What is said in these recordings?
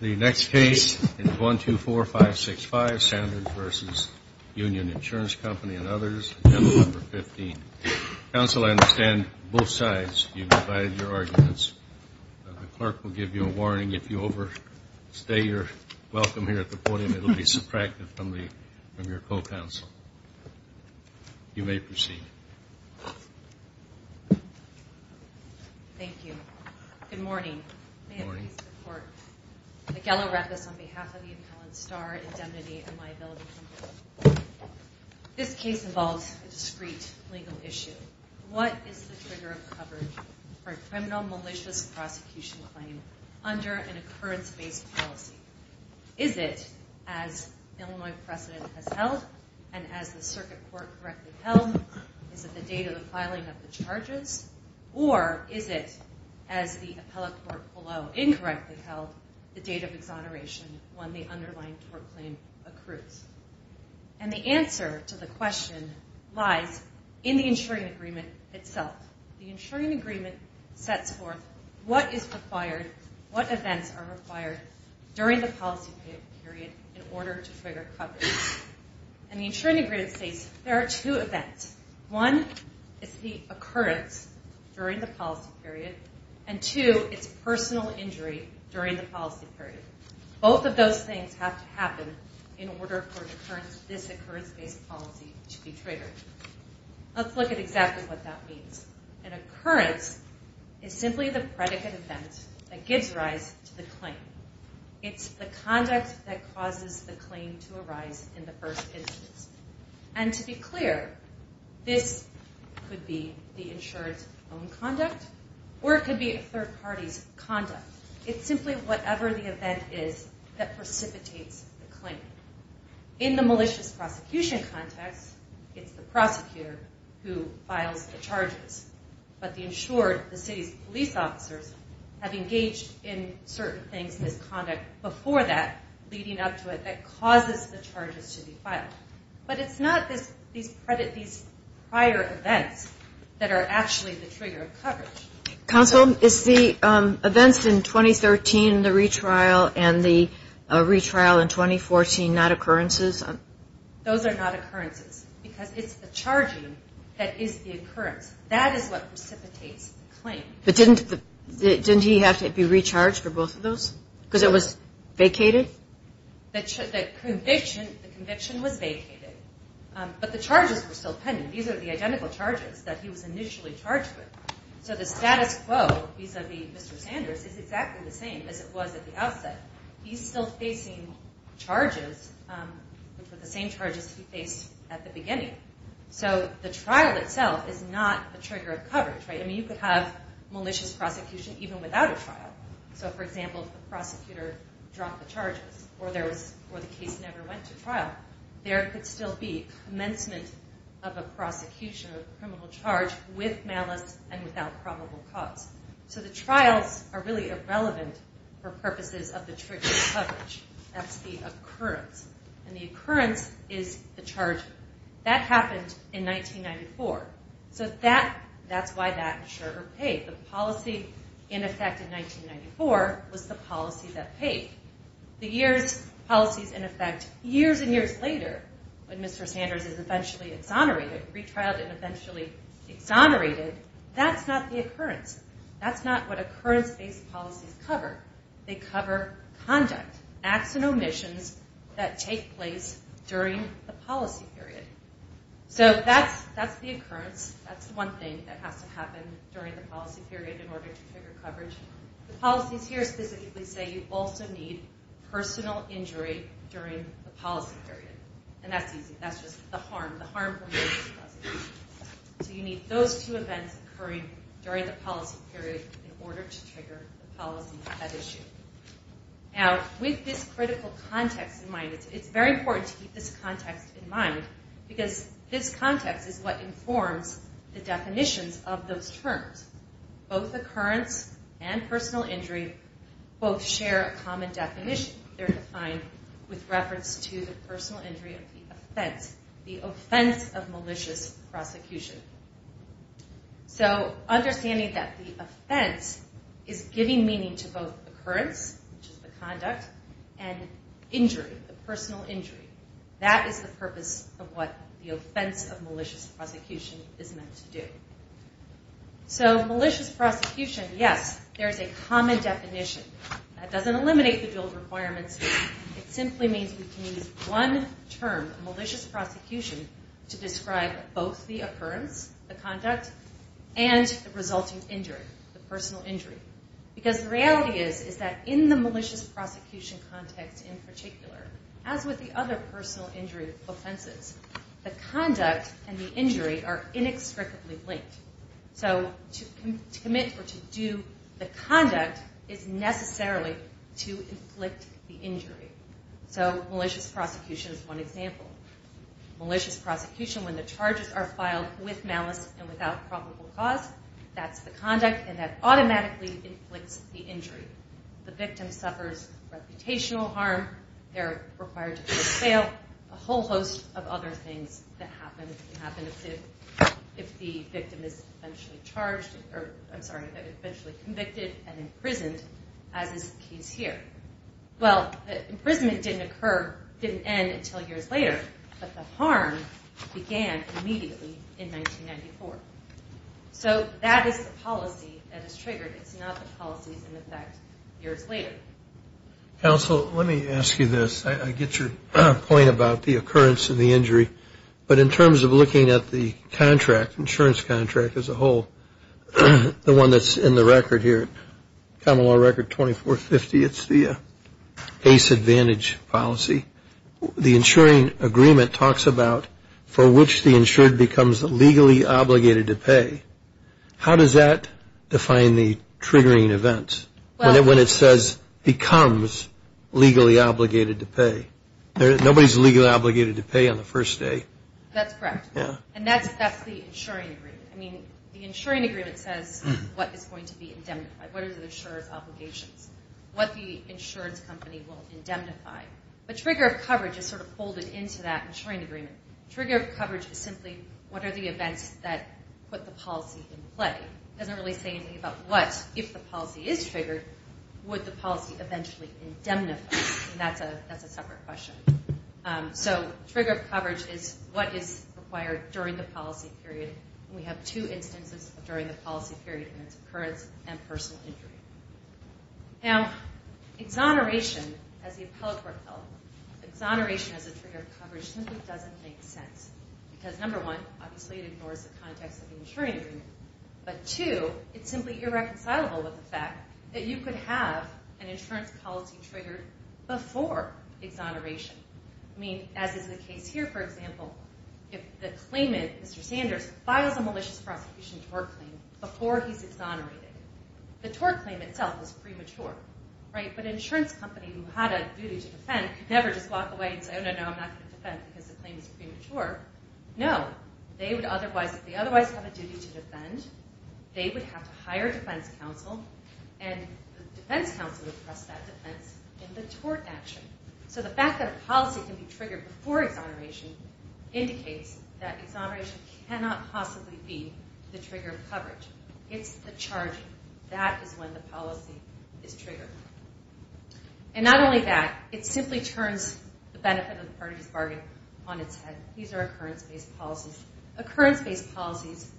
The next case is 124565 Sanders v. Union Insurance Co. and others, Agenda No. 15. Counsel, I understand both sides, you've divided your arguments. The clerk will give you a warning. If you overstay your welcome here at the podium, it will be subtracted from your co-counsel. You may proceed. Thank you. Good morning. Good morning. Good morning. May it please the Court. Miguel Arepas on behalf of the appellant, Starr, indemnity and liability complaint. This case involves a discreet legal issue. What is the trigger of coverage for a criminal malicious prosecution claim under an occurrence-based policy? Is it as Illinois precedent has held and as the circuit court correctly held? Is it the date of the filing of the charges? Or is it as the appellate court below incorrectly held, the date of exoneration when the underlying tort claim accrues? And the answer to the question lies in the insuring agreement itself. The insuring agreement sets forth what is required, what events are required during the policy period in order to trigger coverage. And the insuring agreement states there are two events. One is the occurrence during the policy period. And two, it's personal injury during the policy period. Both of those things have to happen in order for this occurrence-based policy to be triggered. Let's look at exactly what that means. An occurrence is simply the predicate event that gives rise to the claim. It's the conduct that causes the claim to arise in the first instance. And to be clear, this could be the insured's own conduct or it could be a third party's conduct. It's simply whatever the event is that precipitates the claim. In the malicious prosecution context, it's the prosecutor who files the charges. But the insured, the city's police officers, have engaged in certain things, misconduct, before that leading up to it that causes the charges to be filed. But it's not these prior events that are actually the trigger of coverage. Counsel, is the events in 2013, the retrial, and the retrial in 2014 not occurrences? Those are not occurrences because it's the charging that is the occurrence. That is what precipitates the claim. But didn't he have to be recharged for both of those? Because it was vacated? The conviction was vacated. But the charges were still pending. These are the identical charges that he was initially charged with. So the status quo vis-a-vis Mr. Sanders is exactly the same as it was at the outset. He's still facing charges, which were the same charges he faced at the beginning. So the trial itself is not the trigger of coverage. You could have malicious prosecution even without a trial. So, for example, if the prosecutor dropped the charges or the case never went to trial, there could still be commencement of a prosecution of a criminal charge with malice and without probable cause. So the trials are really irrelevant for purposes of the trigger of coverage. That's the occurrence. And the occurrence is the charge. That happened in 1994. So that's why that insurer paid. The policy in effect in 1994 was the policy that paid. The years, policies in effect years and years later when Mr. Sanders is eventually exonerated, retrialed and eventually exonerated, that's not the occurrence. That's not what occurrence-based policies cover. They cover conduct, acts and omissions that take place during the policy period. So that's the occurrence. That's the one thing that has to happen during the policy period in order to trigger coverage. The policies here specifically say you also need personal injury during the policy period. And that's easy. That's just the harm. The harm from malicious prosecution. So you need those two events occurring during the policy period in order to trigger the policy at issue. Now, with this critical context in mind, it's very important to keep this context in mind because this context is what informs the definitions of those terms. Both occurrence and personal injury both share a common definition. They're defined with reference to the personal injury of the offense, the offense of malicious prosecution. So understanding that the offense is giving meaning to both occurrence, which is the conduct, and injury, the personal injury. That is the purpose of what the offense of malicious prosecution is meant to do. So malicious prosecution, yes, there's a common definition. That doesn't eliminate the dual requirements. It simply means we can use one term, malicious prosecution, to describe both the occurrence, the conduct, and the resulting injury, the personal injury. Because the reality is is that in the malicious prosecution context in particular, as with the other personal injury offenses, the conduct and the injury are inextricably linked. So to commit or to do the conduct is necessarily to inflict the injury. So malicious prosecution is one example. Malicious prosecution, when the charges are filed with malice and without probable cause, that's the conduct, and that automatically inflicts the injury. The victim suffers reputational harm. They're required to pay a bail. A whole host of other things that happen if the victim is eventually charged, or I'm sorry, eventually convicted and imprisoned, as is the case here. Well, the imprisonment didn't occur, didn't end until years later, but the harm began immediately in 1994. So that is the policy that is triggered. It's not the policies in effect years later. Counsel, let me ask you this. I get your point about the occurrence and the injury, but in terms of looking at the contract, insurance contract as a whole, the one that's in the record here, Common Law Record 2450, it's the Ace Advantage policy. The insuring agreement talks about for which the insured becomes legally obligated to pay. How does that define the triggering event when it says becomes legally obligated to pay? Nobody is legally obligated to pay on the first day. That's correct. And that's the insuring agreement. I mean, the insuring agreement says what is going to be indemnified, what are the insurer's obligations, what the insurance company will indemnify. The trigger of coverage is sort of folded into that insuring agreement. Trigger of coverage is simply what are the events that put the policy in play. It doesn't really say anything about what, if the policy is triggered, would the policy eventually indemnify, and that's a separate question. So trigger of coverage is what is required during the policy period, and we have two instances during the policy period, and it's occurrence and personal injury. Now, exoneration, as the appellate court held, exoneration as a trigger of coverage simply doesn't make sense because, number one, obviously it ignores the context of the insuring agreement, but, two, it's simply irreconcilable with the fact that you could have an insurance policy triggered before exoneration. I mean, as is the case here, for example, if the claimant, Mr. Sanders, files a malicious prosecution tort claim before he's exonerated, the tort claim itself is premature, right? But an insurance company who had a duty to defend could never just walk away and say, no, no, no, I'm not going to defend because the claim is premature. No, they would otherwise, if they otherwise have a duty to defend, they would have to hire a defense counsel, and the defense counsel would press that defense in the tort action. So the fact that a policy can be triggered before exoneration indicates that exoneration cannot possibly be the trigger of coverage. It's the charge. That is when the policy is triggered. And not only that, it simply turns the benefit of the party's bargain on its head. These are occurrence-based policies. Occurrence-based policies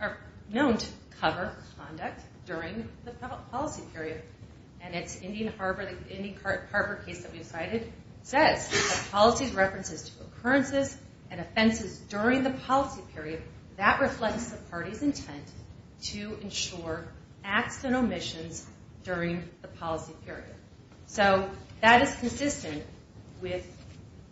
are known to cover conduct during the policy period, and it's Indian Harbor, the Indian Harbor case that we've cited, says that policies' references to occurrences and offenses during the policy period, that reflects the party's intent to ensure acts and omissions during the policy period. So that is consistent with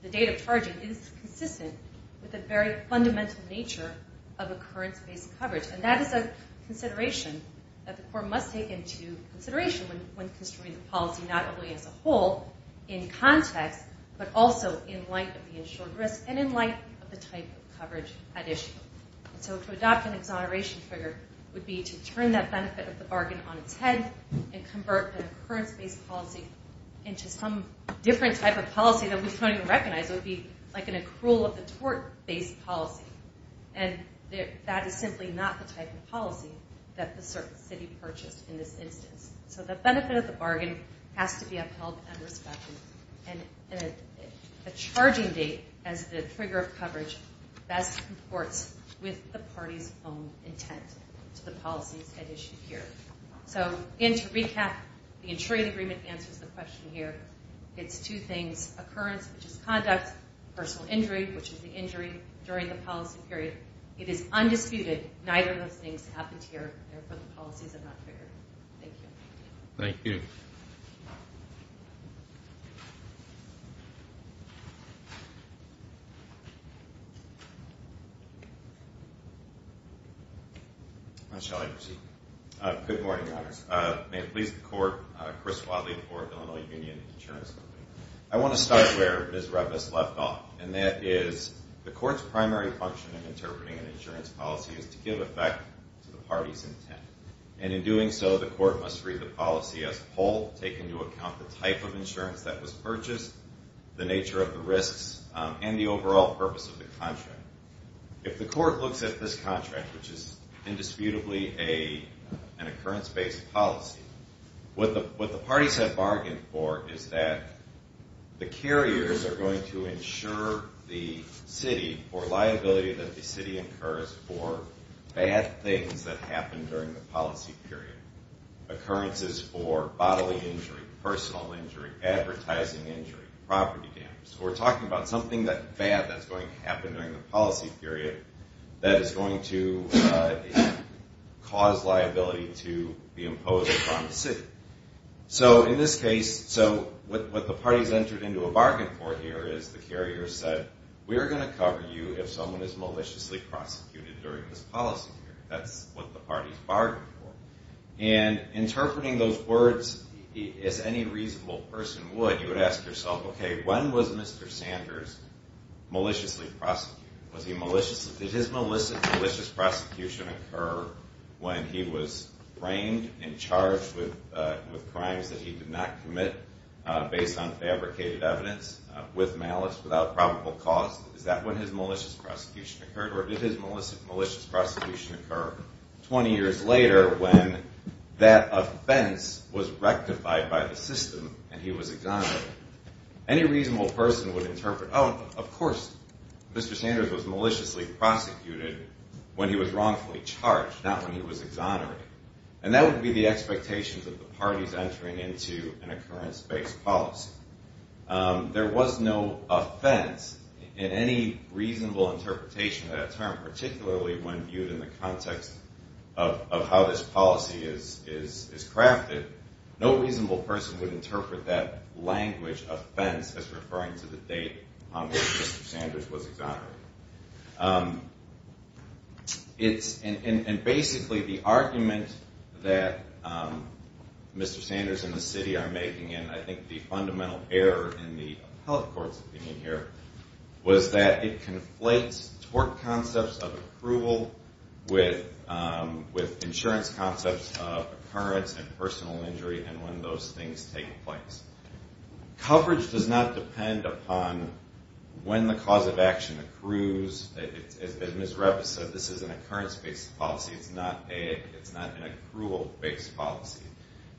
the date of charging. It is consistent with the very fundamental nature of occurrence-based coverage, and that is a consideration that the court must take into consideration when construing the policy, not only as a whole, in context, but also in light of the insured risk and in light of the type of coverage at issue. So to adopt an exoneration trigger would be to turn that benefit of the bargain on its head and convert an occurrence-based policy into some different type of policy that we don't even recognize. It would be like an accrual of the tort-based policy, and that is simply not the type of policy that the city purchased in this instance. So the benefit of the bargain has to be upheld and respected, and a charging date as the trigger of coverage best comports with the party's own intent to the policies at issue here. So again, to recap, the insuring agreement answers the question here. It's two things, occurrence, which is conduct, personal injury, which is the injury during the policy period. It is undisputed neither of those things happened here, therefore the policies are not triggered. Thank you. Thank you. Shall I proceed? Good morning, Your Honors. May it please the Court, Chris Wadley for Illinois Union Insurance Company. I want to start where Ms. Revis left off, and that is the Court's primary function in interpreting an insurance policy is to give effect to the party's intent, and in doing so the Court must read the policy as a whole, take into account the type of insurance that was purchased, the nature of the risks, and the overall purpose of the contract. If the Court looks at this contract, which is indisputably an occurrence-based policy, what the parties have bargained for is that the carriers are going to insure the city for liability that the city incurs for bad things that happen during the policy period, occurrences for bodily injury, personal injury, advertising injury, property damage. So we're talking about something bad that's going to happen during the policy period that is going to cause liability to be imposed upon the city. So in this case, what the parties entered into a bargain for here is the carriers said, we're going to cover you if someone is maliciously prosecuted during this policy period. That's what the parties bargained for. And interpreting those words as any reasonable person would, you would ask yourself, okay, when was Mr. Sanders maliciously prosecuted? Did his malicious prosecution occur when he was framed and charged with crimes that he did not commit based on fabricated evidence with malice without probable cause? Is that when his malicious prosecution occurred? Or did his malicious prosecution occur 20 years later when that offense was rectified by the system and he was exonerated? Any reasonable person would interpret, oh, of course Mr. Sanders was maliciously prosecuted when he was wrongfully charged, not when he was exonerated. And that would be the expectations of the parties entering into an occurrence-based policy. There was no offense in any reasonable interpretation of that term, particularly when viewed in the context of how this policy is crafted. No reasonable person would interpret that language, offense, as referring to the date on which Mr. Sanders was exonerated. And basically the argument that Mr. Sanders and the city are making, and I think the fundamental error in the appellate court's opinion here, was that it conflates tort concepts of approval with insurance concepts of occurrence and personal injury and when those things take place. Coverage does not depend upon when the cause of action accrues. As Ms. Revis said, this is an occurrence-based policy. It's not an accrual-based policy.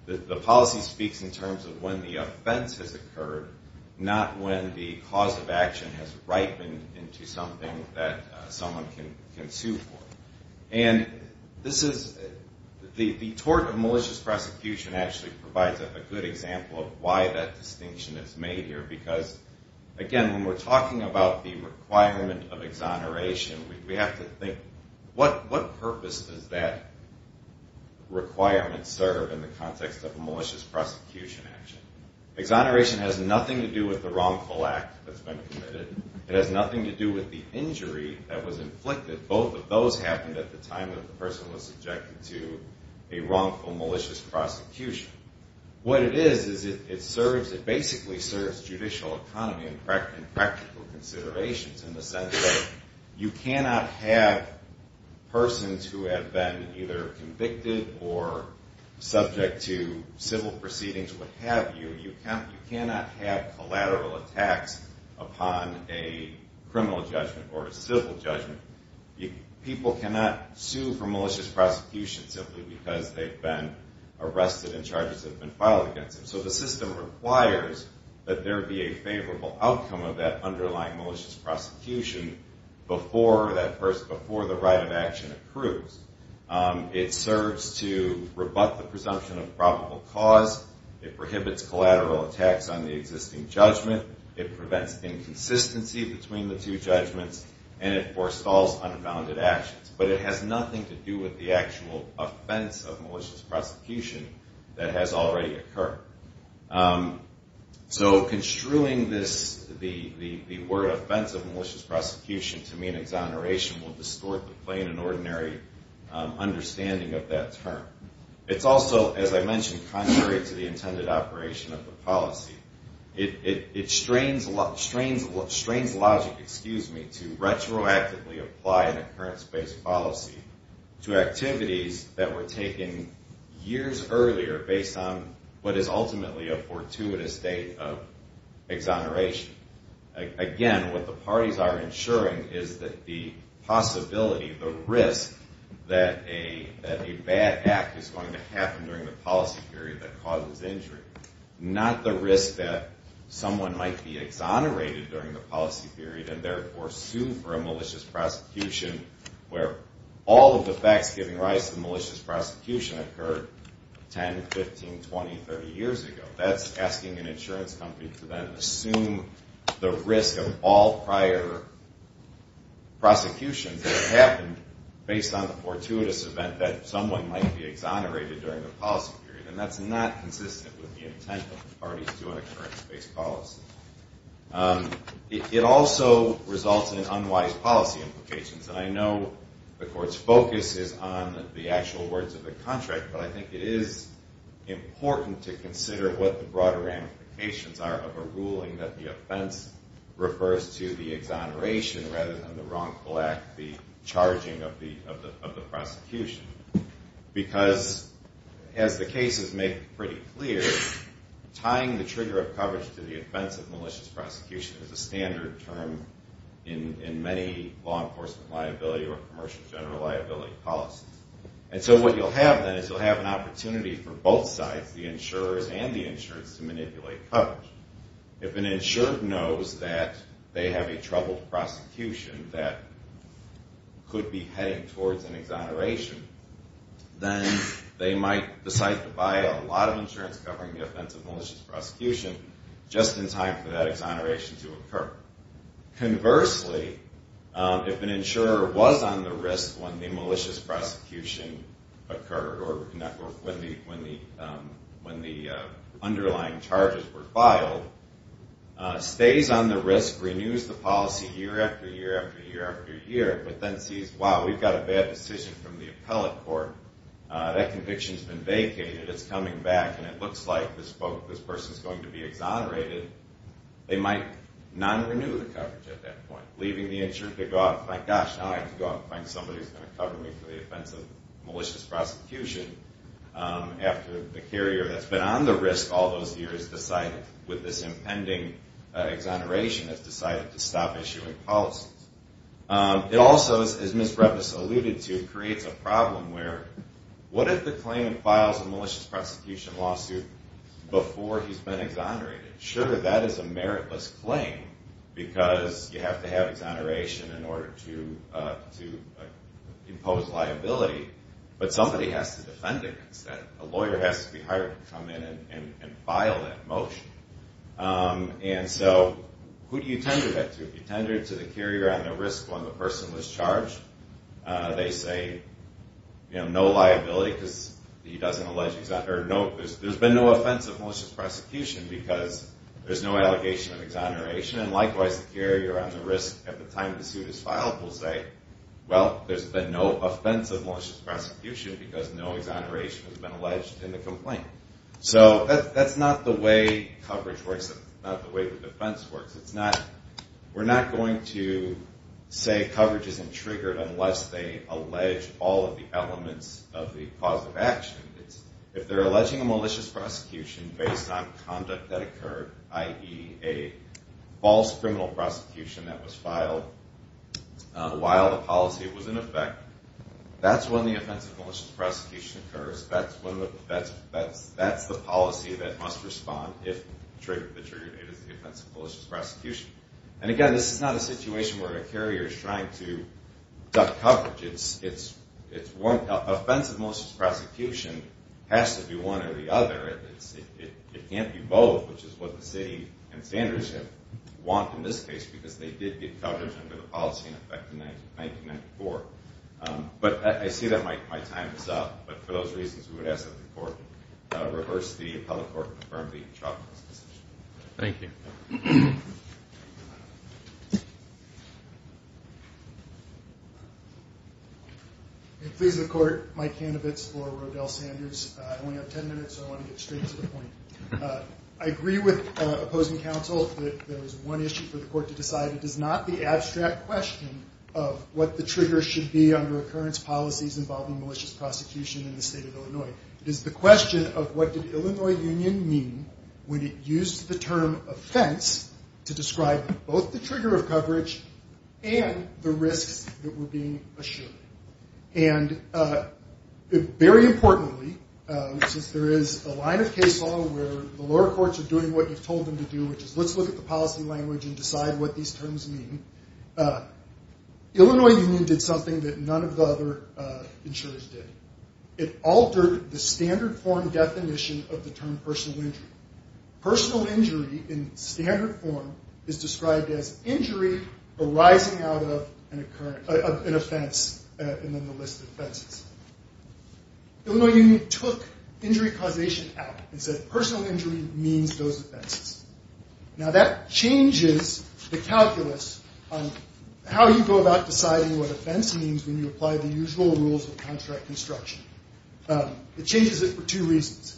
The policy speaks in terms of when the offense has occurred, not when the cause of action has ripened into something that someone can sue for. And the tort of malicious prosecution actually provides a good example of why that distinction is made here because, again, when we're talking about the requirement of exoneration, we have to think, what purpose does that requirement serve in the context of a malicious prosecution action? Exoneration has nothing to do with the wrongful act that's been committed. It has nothing to do with the injury that was inflicted. Both of those happened at the time that the person was subjected to a wrongful malicious prosecution. What it is, is it basically serves judicial economy and practical considerations in the sense that you cannot have persons who have been either convicted or subject to civil proceedings, what have you, you cannot have collateral attacks upon a criminal judgment or a civil judgment. People cannot sue for malicious prosecution simply because they've been arrested and charges have been filed against them. So the system requires that there be a favorable outcome of that underlying malicious prosecution before the right of action accrues. It serves to rebut the presumption of probable cause. It prohibits collateral attacks on the existing judgment. It prevents inconsistency between the two judgments. And it forestalls unfounded actions. But it has nothing to do with the actual offense of malicious prosecution that has already occurred. So construing the word offense of malicious prosecution to mean exoneration will distort the plain and ordinary understanding of that term. It's also, as I mentioned, contrary to the intended operation of the policy. It strains logic to retroactively apply an occurrence-based policy to activities that were taken years earlier based on what is ultimately a fortuitous date of exoneration. Again, what the parties are ensuring is that the possibility, the risk, that a bad act is going to happen during the policy period that causes injury, not the risk that someone might be exonerated during the policy period and therefore sued for a malicious prosecution where all of the facts giving rise to malicious prosecution occurred 10, 15, 20, 30 years ago. That's asking an insurance company to then assume the risk of all prior prosecutions that happened based on the fortuitous event that someone might be exonerated during the policy period. And that's not consistent with the intent of the parties to an occurrence-based policy. It also results in unwise policy implications. And I know the Court's focus is on the actual words of the contract, but I think it is important to consider what the broader ramifications are of a ruling that the offense refers to the exoneration rather than the wrongful act, the charging of the prosecution. Because, as the cases make pretty clear, tying the trigger of coverage to the offense of malicious prosecution is a standard term in many law enforcement liability or commercial general liability policies. And so what you'll have then is you'll have an opportunity for both sides, the insurers and the insurance, to manipulate coverage. If an insurer knows that they have a troubled prosecution that could be heading towards an exoneration, then they might decide to buy a lot of insurance covering the offense of malicious prosecution just in time for that exoneration to occur. Conversely, if an insurer was on the risk when the malicious prosecution occurred or when the underlying charges were filed, stays on the risk, renews the policy year after year after year after year, but then sees, wow, we've got a bad decision from the appellate court, that conviction's been vacated, it's coming back, and it looks like this person's going to be exonerated, they might non-renew the coverage at that point, leaving the insurer to go out and find, gosh, now I have to go out and find somebody who's going to cover me for the offense of malicious prosecution after the carrier that's been on the risk all those years with this impending exoneration has decided to stop issuing policies. It also, as Ms. Brevis alluded to, creates a problem where what if the claimant files a malicious prosecution lawsuit before he's been exonerated? Sure, that is a meritless claim because you have to have exoneration in order to impose liability, but somebody has to defend against that. A lawyer has to be hired to come in and file that motion. And so who do you tender that to? You tender it to the carrier on the risk when the person was charged. They say, you know, no liability because he doesn't allege exoneration. There's been no offense of malicious prosecution because there's no allegation of exoneration, and likewise the carrier on the risk at the time the suit is filed will say, well, there's been no offense of malicious prosecution because no exoneration has been alleged in the complaint. So that's not the way coverage works. That's not the way the defense works. We're not going to say coverage isn't triggered unless they allege all of the elements of the cause of action. If they're alleging a malicious prosecution based on conduct that occurred, i.e., a false criminal prosecution that was filed while the policy was in effect, that's when the offense of malicious prosecution occurs. That's the policy that must respond if the trigger date is the offense of malicious prosecution. And, again, this is not a situation where a carrier is trying to duck coverage. Offense of malicious prosecution has to be one or the other. It can't be both, which is what the city and standards have wanted in this case because they did get coverage under the policy in effect in 1994. But I see that my time is up. But for those reasons, we would ask that the court reverse the appellate court and confirm the intravenous decision. Thank you. Please, the court. Mike Hanovitz for Rodell Sanders. I only have ten minutes, so I want to get straight to the point. I agree with opposing counsel that there is one issue for the court to decide. It is not the abstract question of what the trigger should be under occurrence policies involving malicious prosecution in the state of Illinois. It is the question of what did Illinois Union mean when it used the term offense to describe both the trigger of coverage and the risks that were being assured. And very importantly, since there is a line of case law where the lower courts are doing what you've told them to do, which is let's look at the policy language and decide what these terms mean, Illinois Union did something that none of the other insurers did. It altered the standard form definition of the term personal injury. Personal injury in standard form is described as injury arising out of an offense and then the list of offenses. Illinois Union took injury causation out and said personal injury means those offenses. Now that changes the calculus on how you go about deciding what offense means when you apply the usual rules of contract construction. It changes it for two reasons.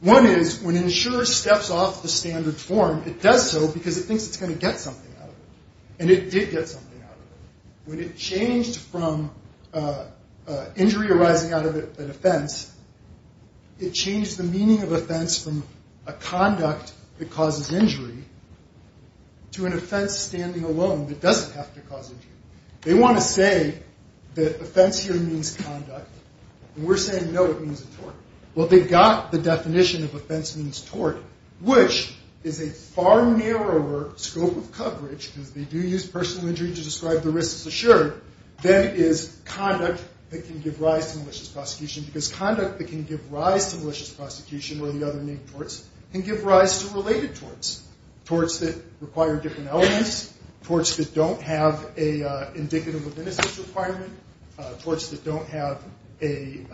One is when an insurer steps off the standard form, it does so because it thinks it's going to get something out of it, and it did get something out of it. When it changed from injury arising out of an offense, it changed the meaning of offense from a conduct that causes injury to an offense standing alone that doesn't have to cause injury. They want to say that offense here means conduct, and we're saying no, it means a tort. Well, they got the definition of offense means tort, which is a far narrower scope of coverage, because they do use personal injury to describe the risks assured, than is conduct that can give rise to malicious prosecution, because conduct that can give rise to malicious prosecution or the other named torts can give rise to related torts, torts that require different elements, torts that don't have an indicative of innocence requirement, torts that don't have a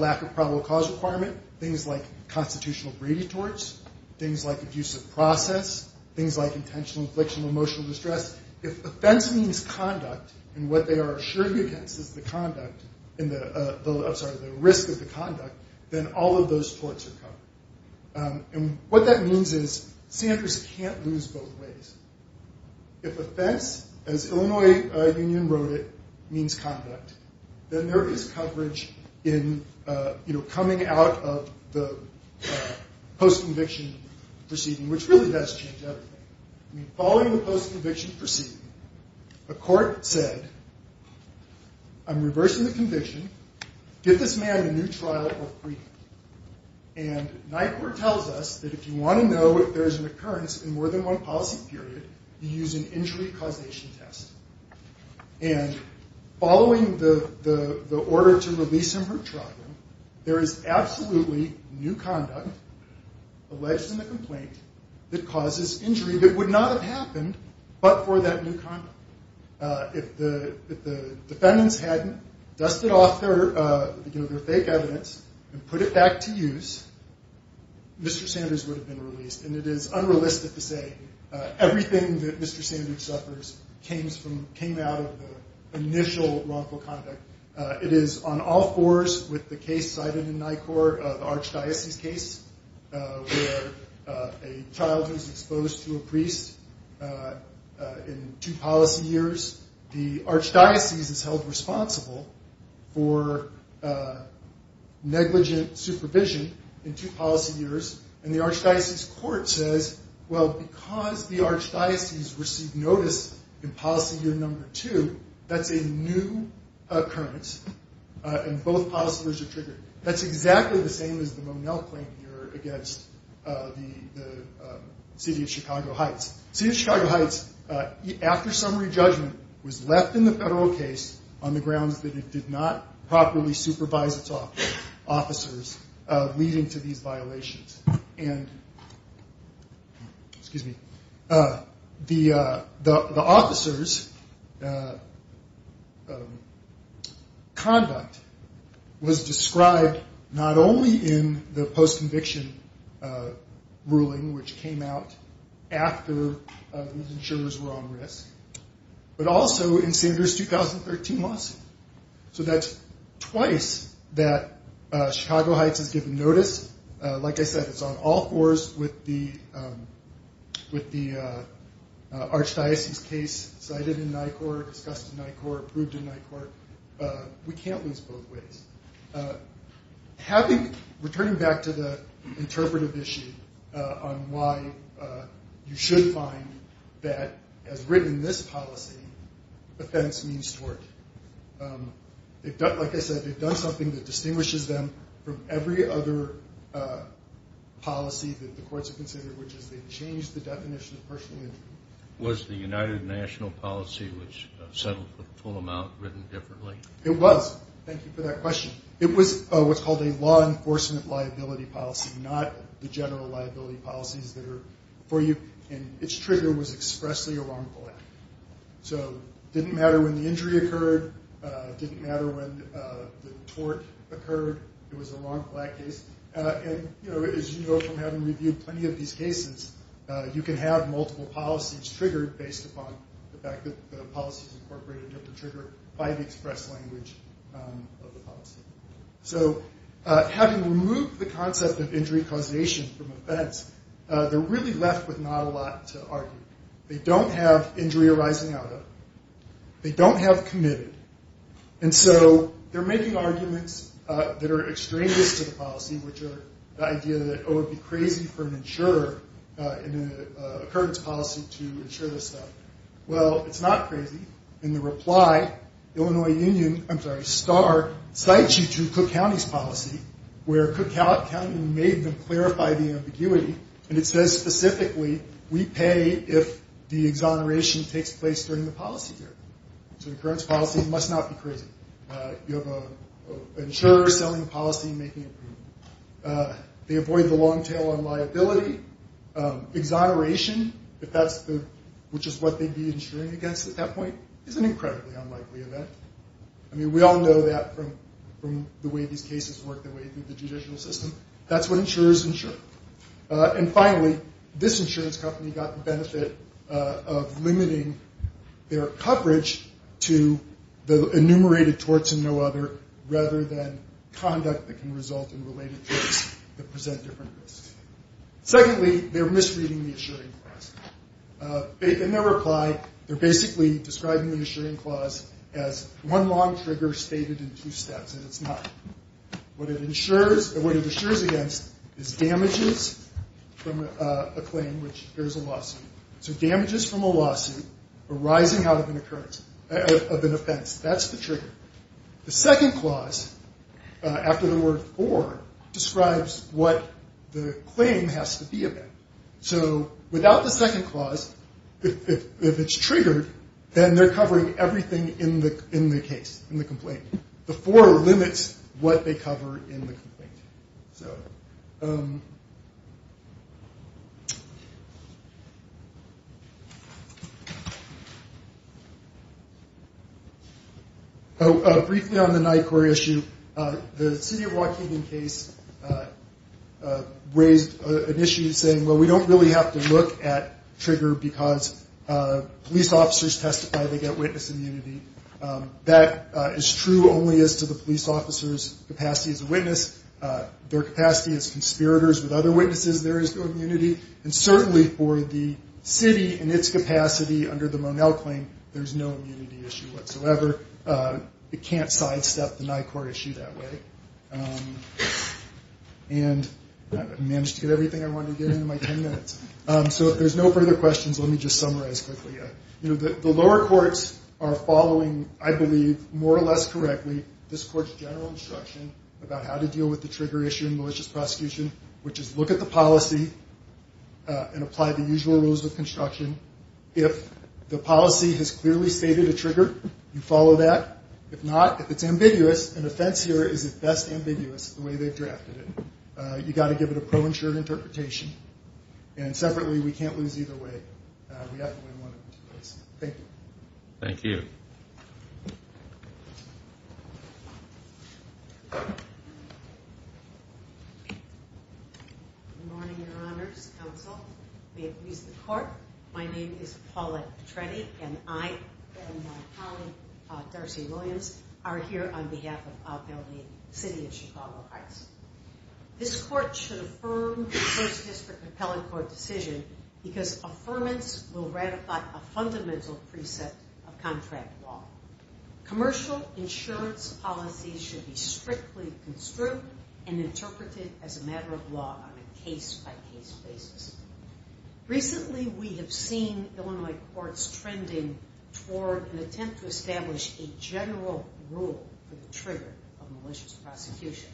lack of probable cause requirement, things like constitutional breeding torts, things like abusive process, things like intentional infliction of emotional distress. If offense means conduct, and what they are assuring against is the conduct, I'm sorry, the risk of the conduct, then all of those torts are covered. And what that means is sanders can't lose both ways. If offense, as Illinois Union wrote it, means conduct, then there is coverage in coming out of the post-conviction proceeding, which really does change everything. Following the post-conviction proceeding, a court said, I'm reversing the conviction. Give this man a new trial or freedom. And my court tells us that if you want to know if there is an occurrence in more than one policy period, you use an injury causation test. And following the order to release him from trial, there is absolutely new conduct alleged in the complaint that causes injury that would not have happened but for that new conduct. If the defendants hadn't dusted off their fake evidence and put it back to use, Mr. Sanders would have been released. And it is unrealistic to say everything that Mr. Sanders suffers came out of the initial wrongful conduct. It is on all fours with the case cited in my court, the Archdiocese case, where a child who is exposed to a priest in two policy years, the Archdiocese is held responsible for negligent supervision in two policy years. And the Archdiocese court says, well, because the Archdiocese received notice in policy year number two, that's a new occurrence, and both policy years are triggered. That's exactly the same as the Monell claim here against the city of Chicago Heights. City of Chicago Heights, after summary judgment, was left in the federal case on the grounds that it did not properly supervise its officers, leading to these violations. And the officers' conduct was described not only in the post-conviction ruling, which came out after these insurers were on risk, but also in Sanders' 2013 lawsuit. So that's twice that Chicago Heights has given notice. Like I said, it's on all fours with the Archdiocese case cited in my court, discussed in my court, approved in my court. We can't lose both ways. Returning back to the interpretive issue on why you should find that, as written in this policy, offense means tort. Like I said, they've done something that distinguishes them from every other policy that the courts have considered, which is they've changed the definition of personal injury. Was the United National policy, which settled for the full amount, written differently? It was. Thank you for that question. It was what's called a law enforcement liability policy, not the general liability policies that are before you. And its trigger was expressly a wrongful act. So it didn't matter when the injury occurred. It didn't matter when the tort occurred. It was a wrongful act case. And, you know, as you know from having reviewed plenty of these cases, you can have multiple policies triggered based upon the fact that the policies incorporated a different trigger by the express language of the policy. So having removed the concept of injury causation from offense, they're really left with not a lot to argue. They don't have injury arising out of it. They don't have committed. And so they're making arguments that are extraneous to the policy, which are the idea that, oh, it would be crazy for an insurer in an occurrence policy to insure this stuff. Well, it's not crazy. In the reply, Illinois Union, I'm sorry, Starr cites you to Cook County's policy where Cook County made them clarify the ambiguity, and it says specifically we pay if the exoneration takes place during the policy period. So the occurrence policy must not be crazy. You have an insurer selling a policy and making a payment. They avoid the long tail on liability. Exoneration, which is what they'd be insuring against at that point, is an incredibly unlikely event. I mean, we all know that from the way these cases work, the way through the judicial system. That's what insurers insure. And finally, this insurance company got the benefit of limiting their coverage to the enumerated torts and no other rather than conduct that can result in related tricks that present different risks. Secondly, they're misreading the assuring clause. In their reply, they're basically describing the assuring clause as one long trigger stated in two steps, and it's not. What it insures against is damages from a claim, which there's a lawsuit. So damages from a lawsuit arising out of an offense. That's the trigger. The second clause, after the word for, describes what the claim has to be about. So without the second clause, if it's triggered, then they're covering everything in the case, in the complaint. The for limits what they cover in the complaint. So briefly on the NYCOR issue, the city of Waukegan case raised an issue saying, well, we don't really have to look at trigger because police officers testify. They get witness immunity. That is true only as to the police officer's capacity as a witness. Their capacity as conspirators with other witnesses, there is no immunity. And certainly for the city in its capacity under the Monell claim, there's no immunity issue whatsoever. It can't sidestep the NYCOR issue that way. And I managed to get everything I wanted to get into my ten minutes. So if there's no further questions, let me just summarize quickly. The lower courts are following, I believe, more or less correctly this court's general instruction about how to deal with the trigger issue in malicious prosecution, which is look at the policy and apply the usual rules of construction. If the policy has clearly stated a trigger, you follow that. If not, if it's ambiguous, an offense here is at best ambiguous the way they've drafted it. You've got to give it a pro-insured interpretation. And separately, we can't lose either way. We have to win one of them. Thank you. Thank you. Good morning, your honors, counsel. May it please the court. My name is Paula Petretti, and I and my colleague, Darcy Williams, are here on behalf of the city of Chicago Heights. This court should affirm the first district appellate court decision because affirmance will ratify a fundamental preset of contract law. Commercial insurance policies should be strictly construed and interpreted as a matter of law on a case-by-case basis. Recently, we have seen Illinois courts trending toward an attempt to establish a general rule for the trigger of malicious prosecution.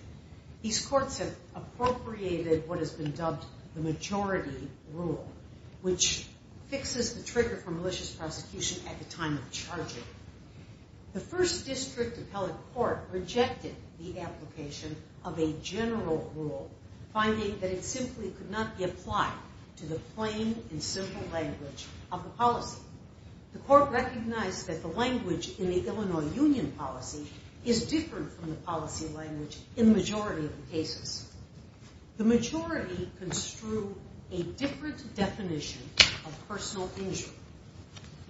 These courts have appropriated what has been dubbed the majority rule, which fixes the trigger for malicious prosecution at the time of charging. The first district appellate court rejected the application of a general rule, finding that it simply could not be applied to the plain and simple language of the policy. The court recognized that the language in the Illinois union policy is different from the policy language in the majority of the cases. The majority construed a different definition of personal injury,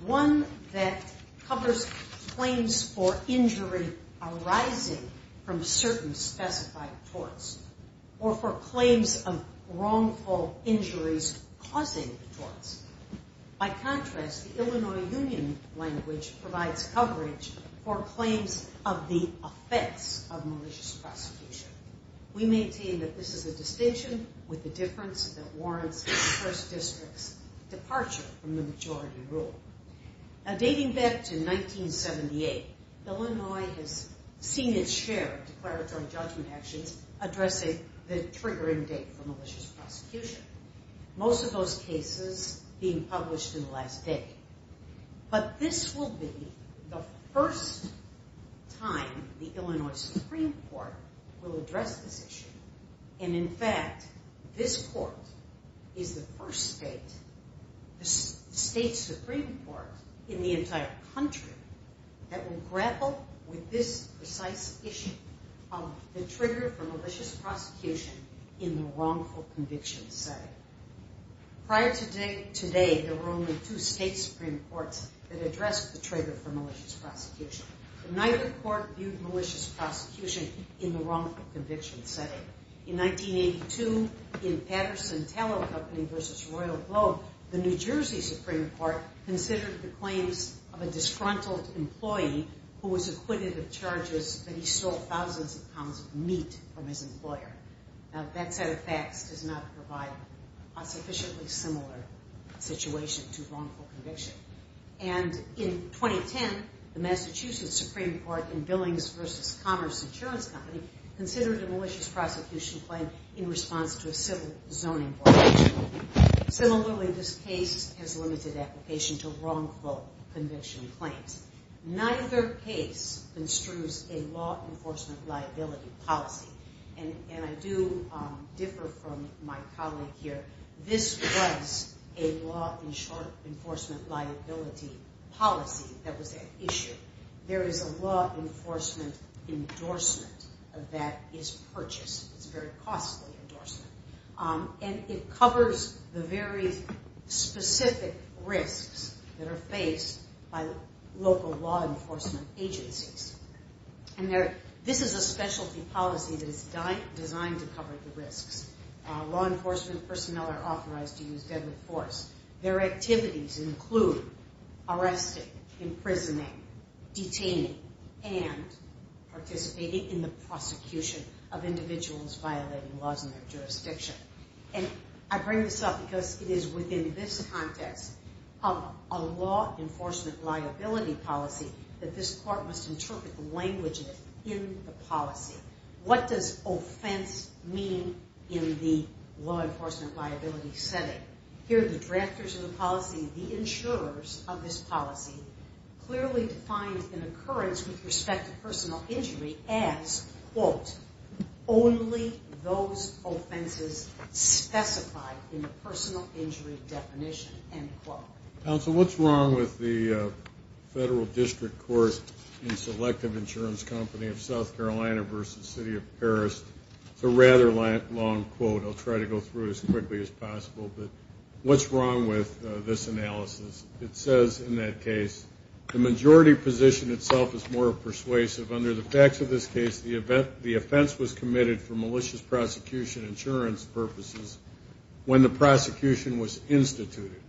one that covers claims for injury arising from certain specified torts or for claims of wrongful injuries causing torts. By contrast, the Illinois union language provides coverage for claims of the offense of malicious prosecution. We maintain that this is a distinction with a difference that warrants the first district's departure from the majority rule. Now, dating back to 1978, Illinois has seen its share of declaratory judgment actions addressing the triggering date for malicious prosecution. Most of those cases being published in the last day. But this will be the first time the Illinois Supreme Court will address this issue. And in fact, this court is the first state supreme court in the entire country that will grapple with this precise issue of the trigger for malicious prosecution in the wrongful conviction setting. Prior to today, there were only two state supreme courts that addressed the trigger for malicious prosecution. Neither court viewed malicious prosecution in the wrongful conviction setting. In 1982, in Patterson Tallow Company v. Royal Globe, the New Jersey Supreme Court considered the claims of a disgruntled employee who was acquitted of charges that he stole thousands of pounds of meat from his employer. Now, that set of facts does not provide a sufficiently similar situation to wrongful conviction. And in 2010, the Massachusetts Supreme Court in Billings v. Commerce Insurance Company considered a malicious prosecution claim in response to a civil zoning violation. Similarly, this case has limited application to wrongful conviction claims. Neither case construes a law enforcement liability policy. And I do differ from my colleague here. This was a law enforcement liability policy that was at issue. There is a law enforcement endorsement of that is purchased. It's a very costly endorsement. And it covers the very specific risks that are faced by local law enforcement agencies. And this is a specialty policy that is designed to cover the risks. Law enforcement personnel are authorized to use deadly force. Their activities include arresting, imprisoning, detaining, and participating in the prosecution of individuals violating laws in their jurisdiction. And I bring this up because it is within this context of a law enforcement liability policy that this court must interpret the languages in the policy. What does offense mean in the law enforcement liability setting? Here the drafters of the policy, the insurers of this policy, clearly defined an occurrence with respect to personal injury as, quote, only those offenses specified in the personal injury definition, end quote. Counsel, what's wrong with the federal district court in Selective Insurance Company of South Carolina v. City of Paris? It's a rather long quote. I'll try to go through it as quickly as possible. But what's wrong with this analysis? It says in that case, the majority position itself is more persuasive. Under the facts of this case, the offense was committed for malicious prosecution insurance purposes when the prosecution was instituted,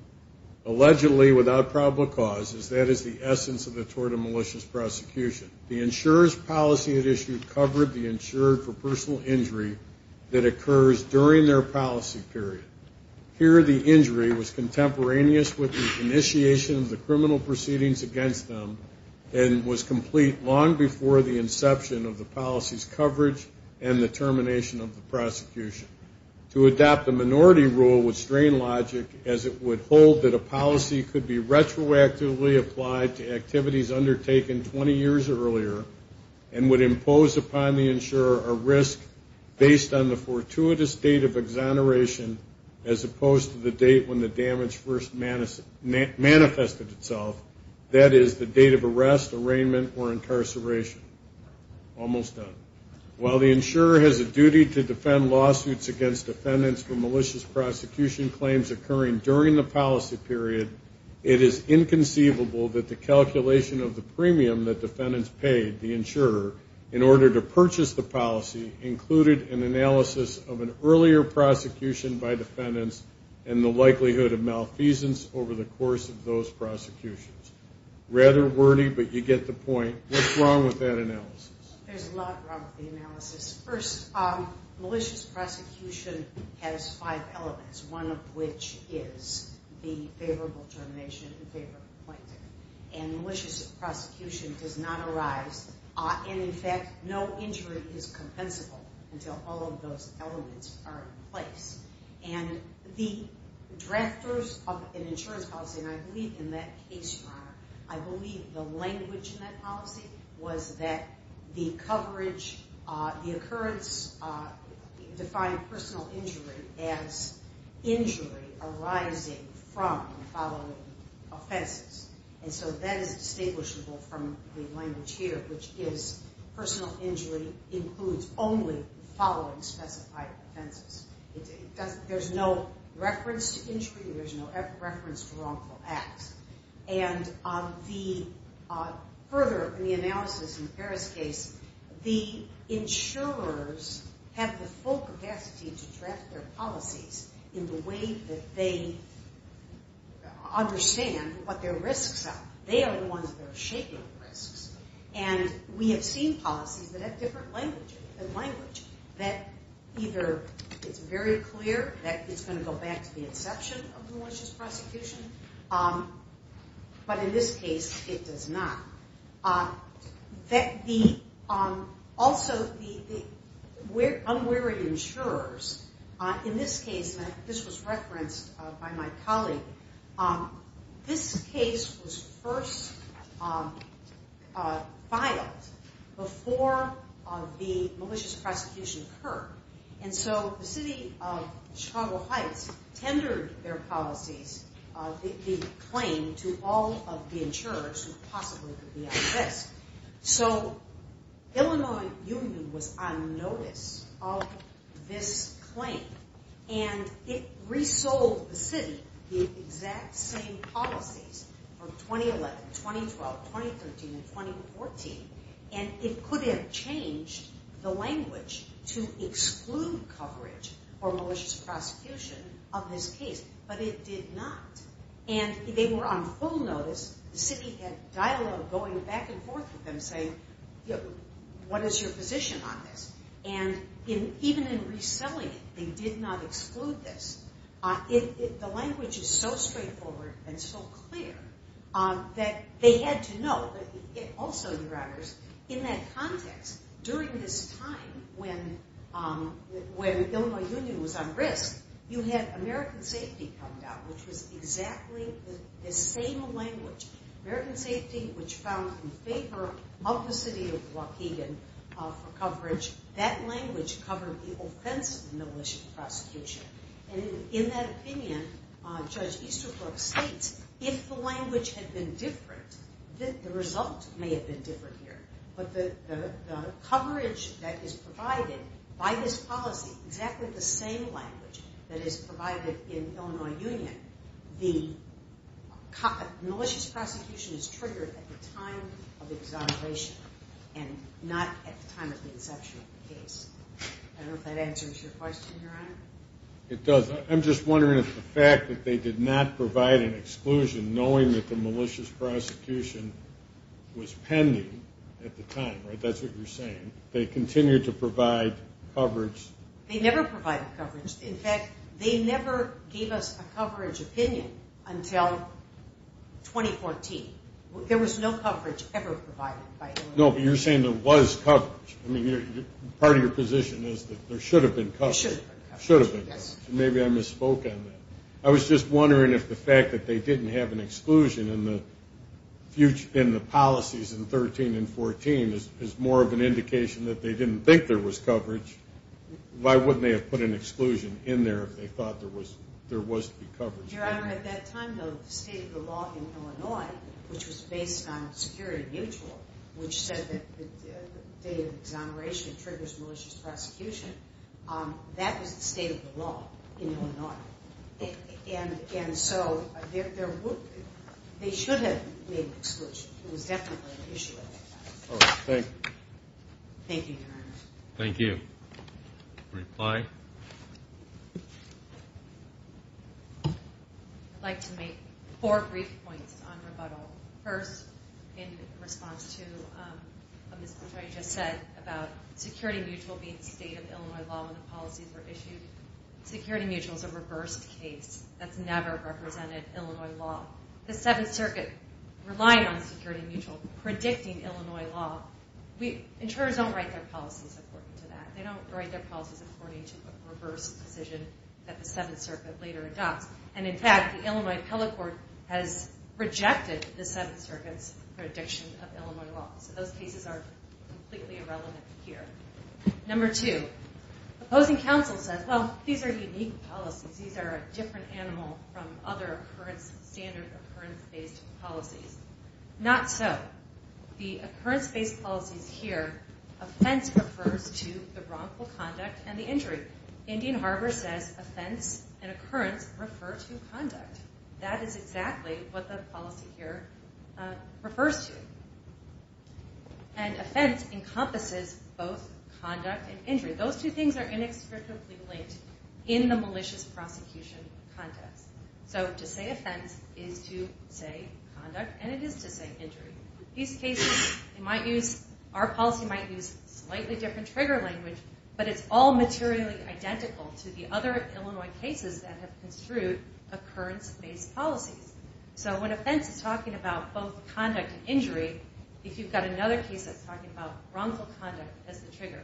allegedly without probable causes. That is the essence of the tort and malicious prosecution. The insurer's policy at issue covered the insurer for personal injury that occurs during their policy period. Here the injury was contemporaneous with the initiation of the criminal proceedings against them and was complete long before the inception of the policy's coverage and the termination of the prosecution. To adopt the minority rule would strain logic as it would hold that a policy could be retroactively applied to activities undertaken 20 years earlier and would impose upon the insurer a risk based on the fortuitous date of exoneration as opposed to the date when the damage first manifested itself. That is the date of arrest, arraignment, or incarceration. Almost done. While the insurer has a duty to defend lawsuits against defendants for malicious prosecution claims occurring during the policy period, it is inconceivable that the calculation of the premium that defendants paid the insurer in order to purchase the policy included an analysis of an earlier prosecution by defendants and the likelihood of malfeasance over the course of those prosecutions. Rather wordy, but you get the point. What's wrong with that analysis? There's a lot wrong with the analysis. First, malicious prosecution has five elements, one of which is the favorable termination and favorable acquaintance. And malicious prosecution does not arise, and in fact, no injury is compensable until all of those elements are in place. And the drafters of an insurance policy, and I believe in that case, Your Honor, I believe the language in that policy was that the occurrence defined personal injury as injury arising from following offenses. And so that is distinguishable from the language here, which is personal injury includes only following specified offenses. There's no reference to injury. There's no reference to wrongful acts. And the further analysis in the Ferris case, the insurers have the full capacity to draft their policies in the way that they understand what their risks are. They are the ones that are shaping the risks. And we have seen policies that have different language, that either it's very clear that it's going to go back to the exception of malicious prosecution, but in this case, it does not. Also, the unwary insurers, in this case, and this was referenced by my colleague, this case was first filed before the malicious prosecution occurred. And so the city of Chicago Heights tendered their policies, the claim to all of the insurers who possibly could be at risk. So Illinois Union was on notice of this claim, and it resold the city the exact same policies from 2011, 2012, 2013, and 2014. And it could have changed the language to exclude coverage for malicious prosecution of this case, but it did not. And they were on full notice. The city had dialogue going back and forth with them saying, what is your position on this? And even in reselling it, they did not exclude this. The language is so straightforward and so clear that they had to know. Also, Your Honors, in that context, during this time when Illinois Union was on risk, you had American Safety come down, which was exactly the same language. American Safety, which found in favor of the city of Waukegan for coverage, that language covered the offense of the malicious prosecution. And in that opinion, Judge Easterbrook states, if the language had been different, the result may have been different here. But the coverage that is provided by this policy, exactly the same language that is provided in Illinois Union, the malicious prosecution is triggered at the time of exoneration and not at the time of the inception of the case. I hope that answers your question, Your Honor. It does. I'm just wondering if the fact that they did not provide an exclusion, knowing that the malicious prosecution was pending at the time, right? That's what you're saying. They continued to provide coverage. They never provided coverage. In fact, they never gave us a coverage opinion until 2014. There was no coverage ever provided by Illinois Union. No, but you're saying there was coverage. Part of your position is that there should have been coverage. There should have been coverage, yes. Maybe I misspoke on that. I was just wondering if the fact that they didn't have an exclusion in the policies in 13 and 14 is more of an indication that they didn't think there was coverage. Why wouldn't they have put an exclusion in there if they thought there was to be coverage? Your Honor, at that time, the state of the law in Illinois, which was based on security mutual, which said that the date of exoneration triggers malicious prosecution, that was the state of the law in Illinois. And so they should have made the exclusion. It was definitely an issue at that time. Thank you, Your Honor. Thank you. Reply. I'd like to make four brief points on rebuttal. First, in response to what Ms. Petraeus just said about security mutual being the state of Illinois law when the policies were issued, security mutual is a reversed case. That's never represented Illinois law. The Seventh Circuit relied on security mutual predicting Illinois law. Insurers don't write their policies according to that. They don't write their policies according to a reversed decision that the Seventh Circuit later adopts. And, in fact, the Illinois appellate court has rejected the Seventh Circuit's prediction of Illinois law. So those cases are completely irrelevant here. Number two, opposing counsel says, well, these are unique policies. These are a different animal from other standard occurrence-based policies. Not so. The occurrence-based policies here, offense refers to the wrongful conduct and the injury. Indian Harbor says offense and occurrence refer to conduct. That is exactly what the policy here refers to. And offense encompasses both conduct and injury. Those two things are inextricably linked in the malicious prosecution context. So to say offense is to say conduct, and it is to say injury. In these cases, our policy might use slightly different trigger language, but it's all materially identical to the other Illinois cases that have construed occurrence-based policies. So when offense is talking about both conduct and injury, if you've got another case that's talking about wrongful conduct as the trigger,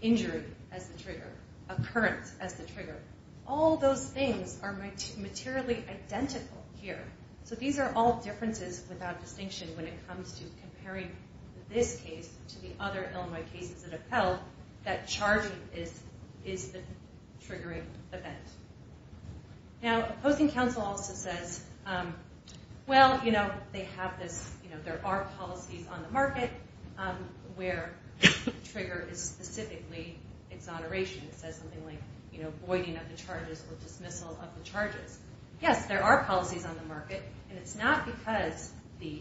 injury as the trigger, occurrence as the trigger, all those things are materially identical here. So these are all differences without distinction when it comes to comparing this case to the other Illinois cases that have held that charging is the triggering event. Now, opposing counsel also says, well, you know, they have this, you know, there are policies on the market where trigger is specifically exoneration. It says something like, you know, voiding of the charges or dismissal of the charges. Yes, there are policies on the market, and it's not because the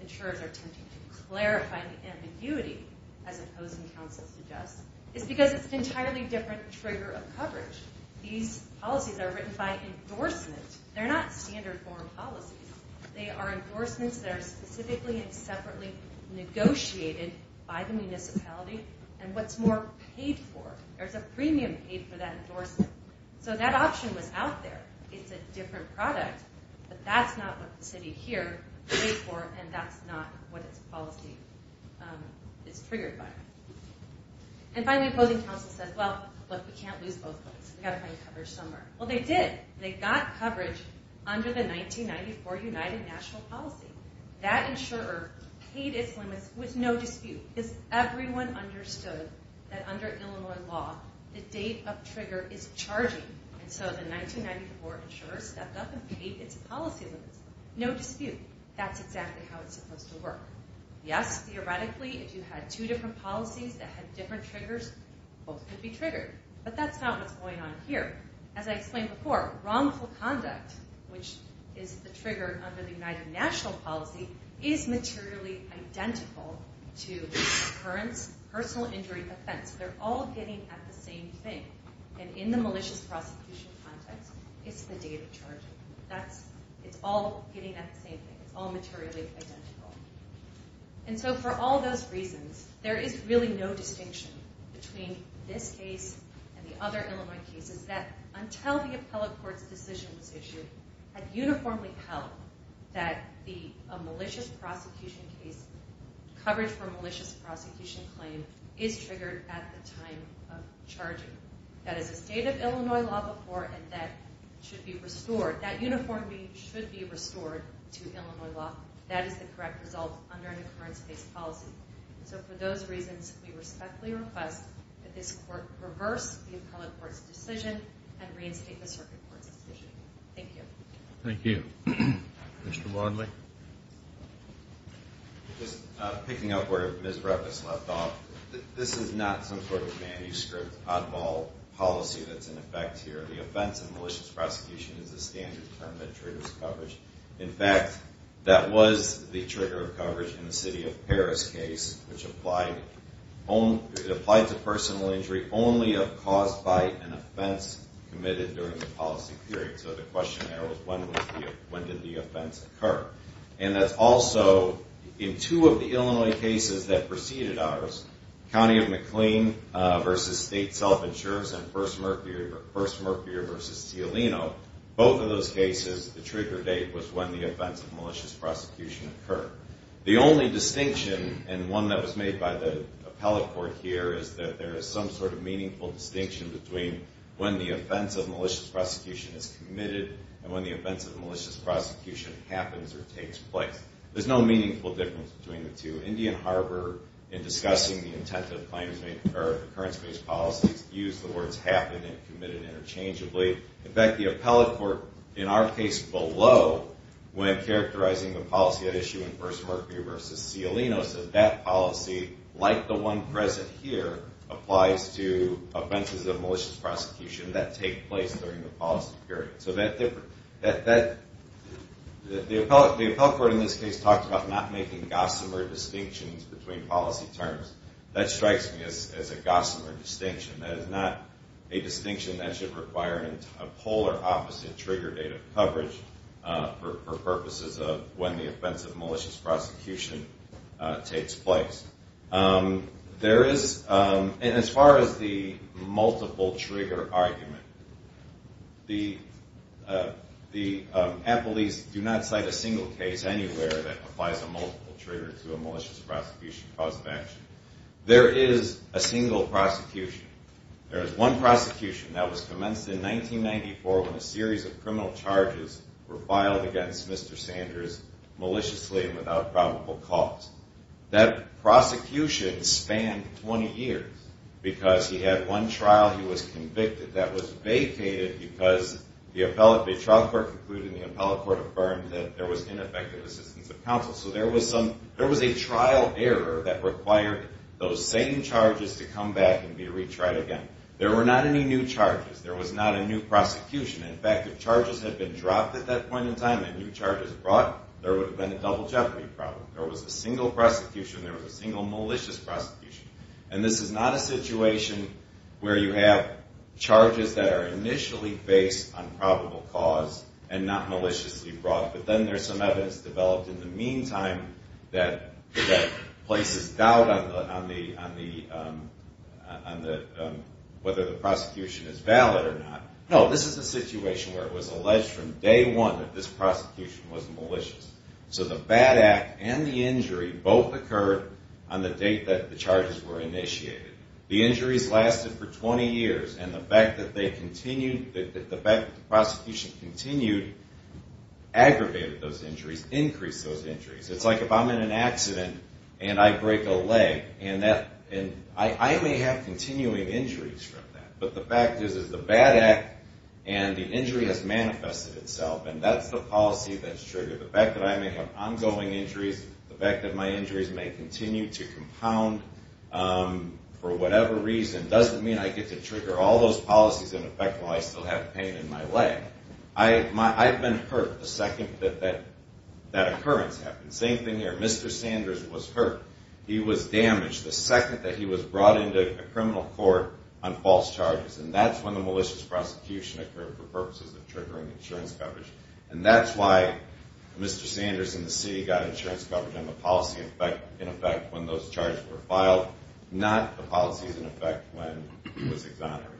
insurers are attempting to clarify the ambiguity, as opposing counsel suggests. It's because it's an entirely different trigger of coverage. These policies are written by endorsement. They're not standard form policies. They are endorsements that are specifically and separately negotiated by the municipality. And what's more, paid for. There's a premium paid for that endorsement. So that option was out there. It's a different product, but that's not what the city here paid for, and that's not what its policy is triggered by. And finally, opposing counsel says, well, look, we can't lose both of those. We've got to find coverage somewhere. Well, they did. They got coverage under the 1994 United National Policy. That insurer paid its limits with no dispute. Because everyone understood that under Illinois law, the date of trigger is charging. And so the 1994 insurer stepped up and paid its policy limits. No dispute. That's exactly how it's supposed to work. Yes, theoretically, if you had two different policies that had different triggers, both could be triggered. But that's not what's going on here. As I explained before, wrongful conduct, which is the trigger under the United National Policy, is materially identical to occurrence, personal injury, offense. They're all getting at the same thing. And in the malicious prosecution context, it's the date of charging. It's all getting at the same thing. It's all materially identical. And so for all those reasons, there is really no distinction between this case and the other Illinois cases that until the appellate court's decision was issued, had uniformly held that a malicious prosecution case, coverage for a malicious prosecution claim, is triggered at the time of charging. That is a state of Illinois law before, and that should be restored. That uniformly should be restored to Illinois law. That is the correct result under an occurrence-based policy. So for those reasons, we respectfully request that this court reverse the appellate court's decision and reinstate the circuit court's decision. Thank you. Thank you. Mr. Barnley. Just picking up where Ms. Brevis left off, this is not some sort of manuscript, oddball policy that's in effect here. The offense of malicious prosecution is a standard term that triggers coverage. In fact, that was the trigger of coverage in the city of Paris case, which applied to personal injury only caused by an offense committed during the policy period. So the question there was, when did the offense occur? And that's also in two of the Illinois cases that preceded ours, County of McLean v. State Self-Insurance and First Mercury v. Cialino. Both of those cases, the trigger date was when the offense of malicious prosecution occurred. The only distinction, and one that was made by the appellate court here, is that there is some sort of meaningful distinction between when the offense of malicious prosecution is committed and when the offense of malicious prosecution happens or takes place. There's no meaningful difference between the two. Indian Harbor, in discussing the intent of the occurrence-based policy, used the words happened and committed interchangeably. In fact, the appellate court in our case below, when characterizing the policy at issue in First Mercury v. Cialino, said that policy, like the one present here, applies to offenses of malicious prosecution that take place during the policy period. So the appellate court in this case talked about not making gossamer distinctions between policy terms. That strikes me as a gossamer distinction. That is not a distinction that should require a polar opposite trigger date of coverage for purposes of when the offense of malicious prosecution takes place. There is, and as far as the multiple trigger argument, the appellees do not cite a single case anywhere that applies a multiple trigger to a malicious prosecution cause of action. There is a single prosecution. There is one prosecution that was commenced in 1994 when a series of criminal charges were filed against Mr. Sanders maliciously and without probable cause. That prosecution spanned 20 years because he had one trial he was convicted that was vacated because the trial court concluded and the appellate court affirmed that there was ineffective assistance of counsel. So there was a trial error that required those same charges to come back and be retried again. There were not any new charges. There was not a new prosecution. In fact, if charges had been dropped at that point in time and new charges brought, there would have been a double jeopardy problem. There was a single prosecution. There was a single malicious prosecution. And this is not a situation where you have charges that are initially based on probable cause and not maliciously brought, but then there's some evidence developed in the meantime that places doubt on whether the prosecution is valid or not. No, this is a situation where it was alleged from day one that this prosecution was malicious. So the bad act and the injury both occurred on the date that the charges were initiated. The injuries lasted for 20 years, and the fact that the prosecution continued aggravated those injuries, increased those injuries. It's like if I'm in an accident and I break a leg, I may have continuing injuries from that. But the fact is that the bad act and the injury has manifested itself, and that's the policy that's triggered. The fact that I may have ongoing injuries, the fact that my injuries may continue to compound for whatever reason, doesn't mean I get to trigger all those policies in effect while I still have pain in my leg. I've been hurt the second that that occurrence happened. Same thing here. Mr. Sanders was hurt. He was damaged the second that he was brought into a criminal court on false charges, and that's when the malicious prosecution occurred for purposes of triggering insurance coverage. And that's why Mr. Sanders and the city got insurance coverage on the policy in effect when those charges were filed, not the policies in effect when he was exonerated.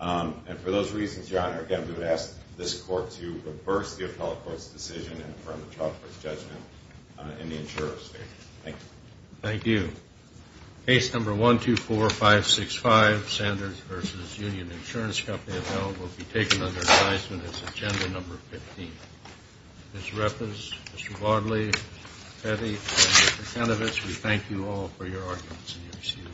And for those reasons, Your Honor, again, we would ask this court to reverse the appellate court's decision and affirm the charge for his judgment in the insurer's statement. Thank you. Thank you. Thank you. Case number 124565, Sanders v. Union Insurance Company, appellant, will be taken under advisement as agenda number 15. Ms. Reffes, Mr. Wadley, Petty, and Mr. Kenovitz, we thank you all for your arguments and your excuses.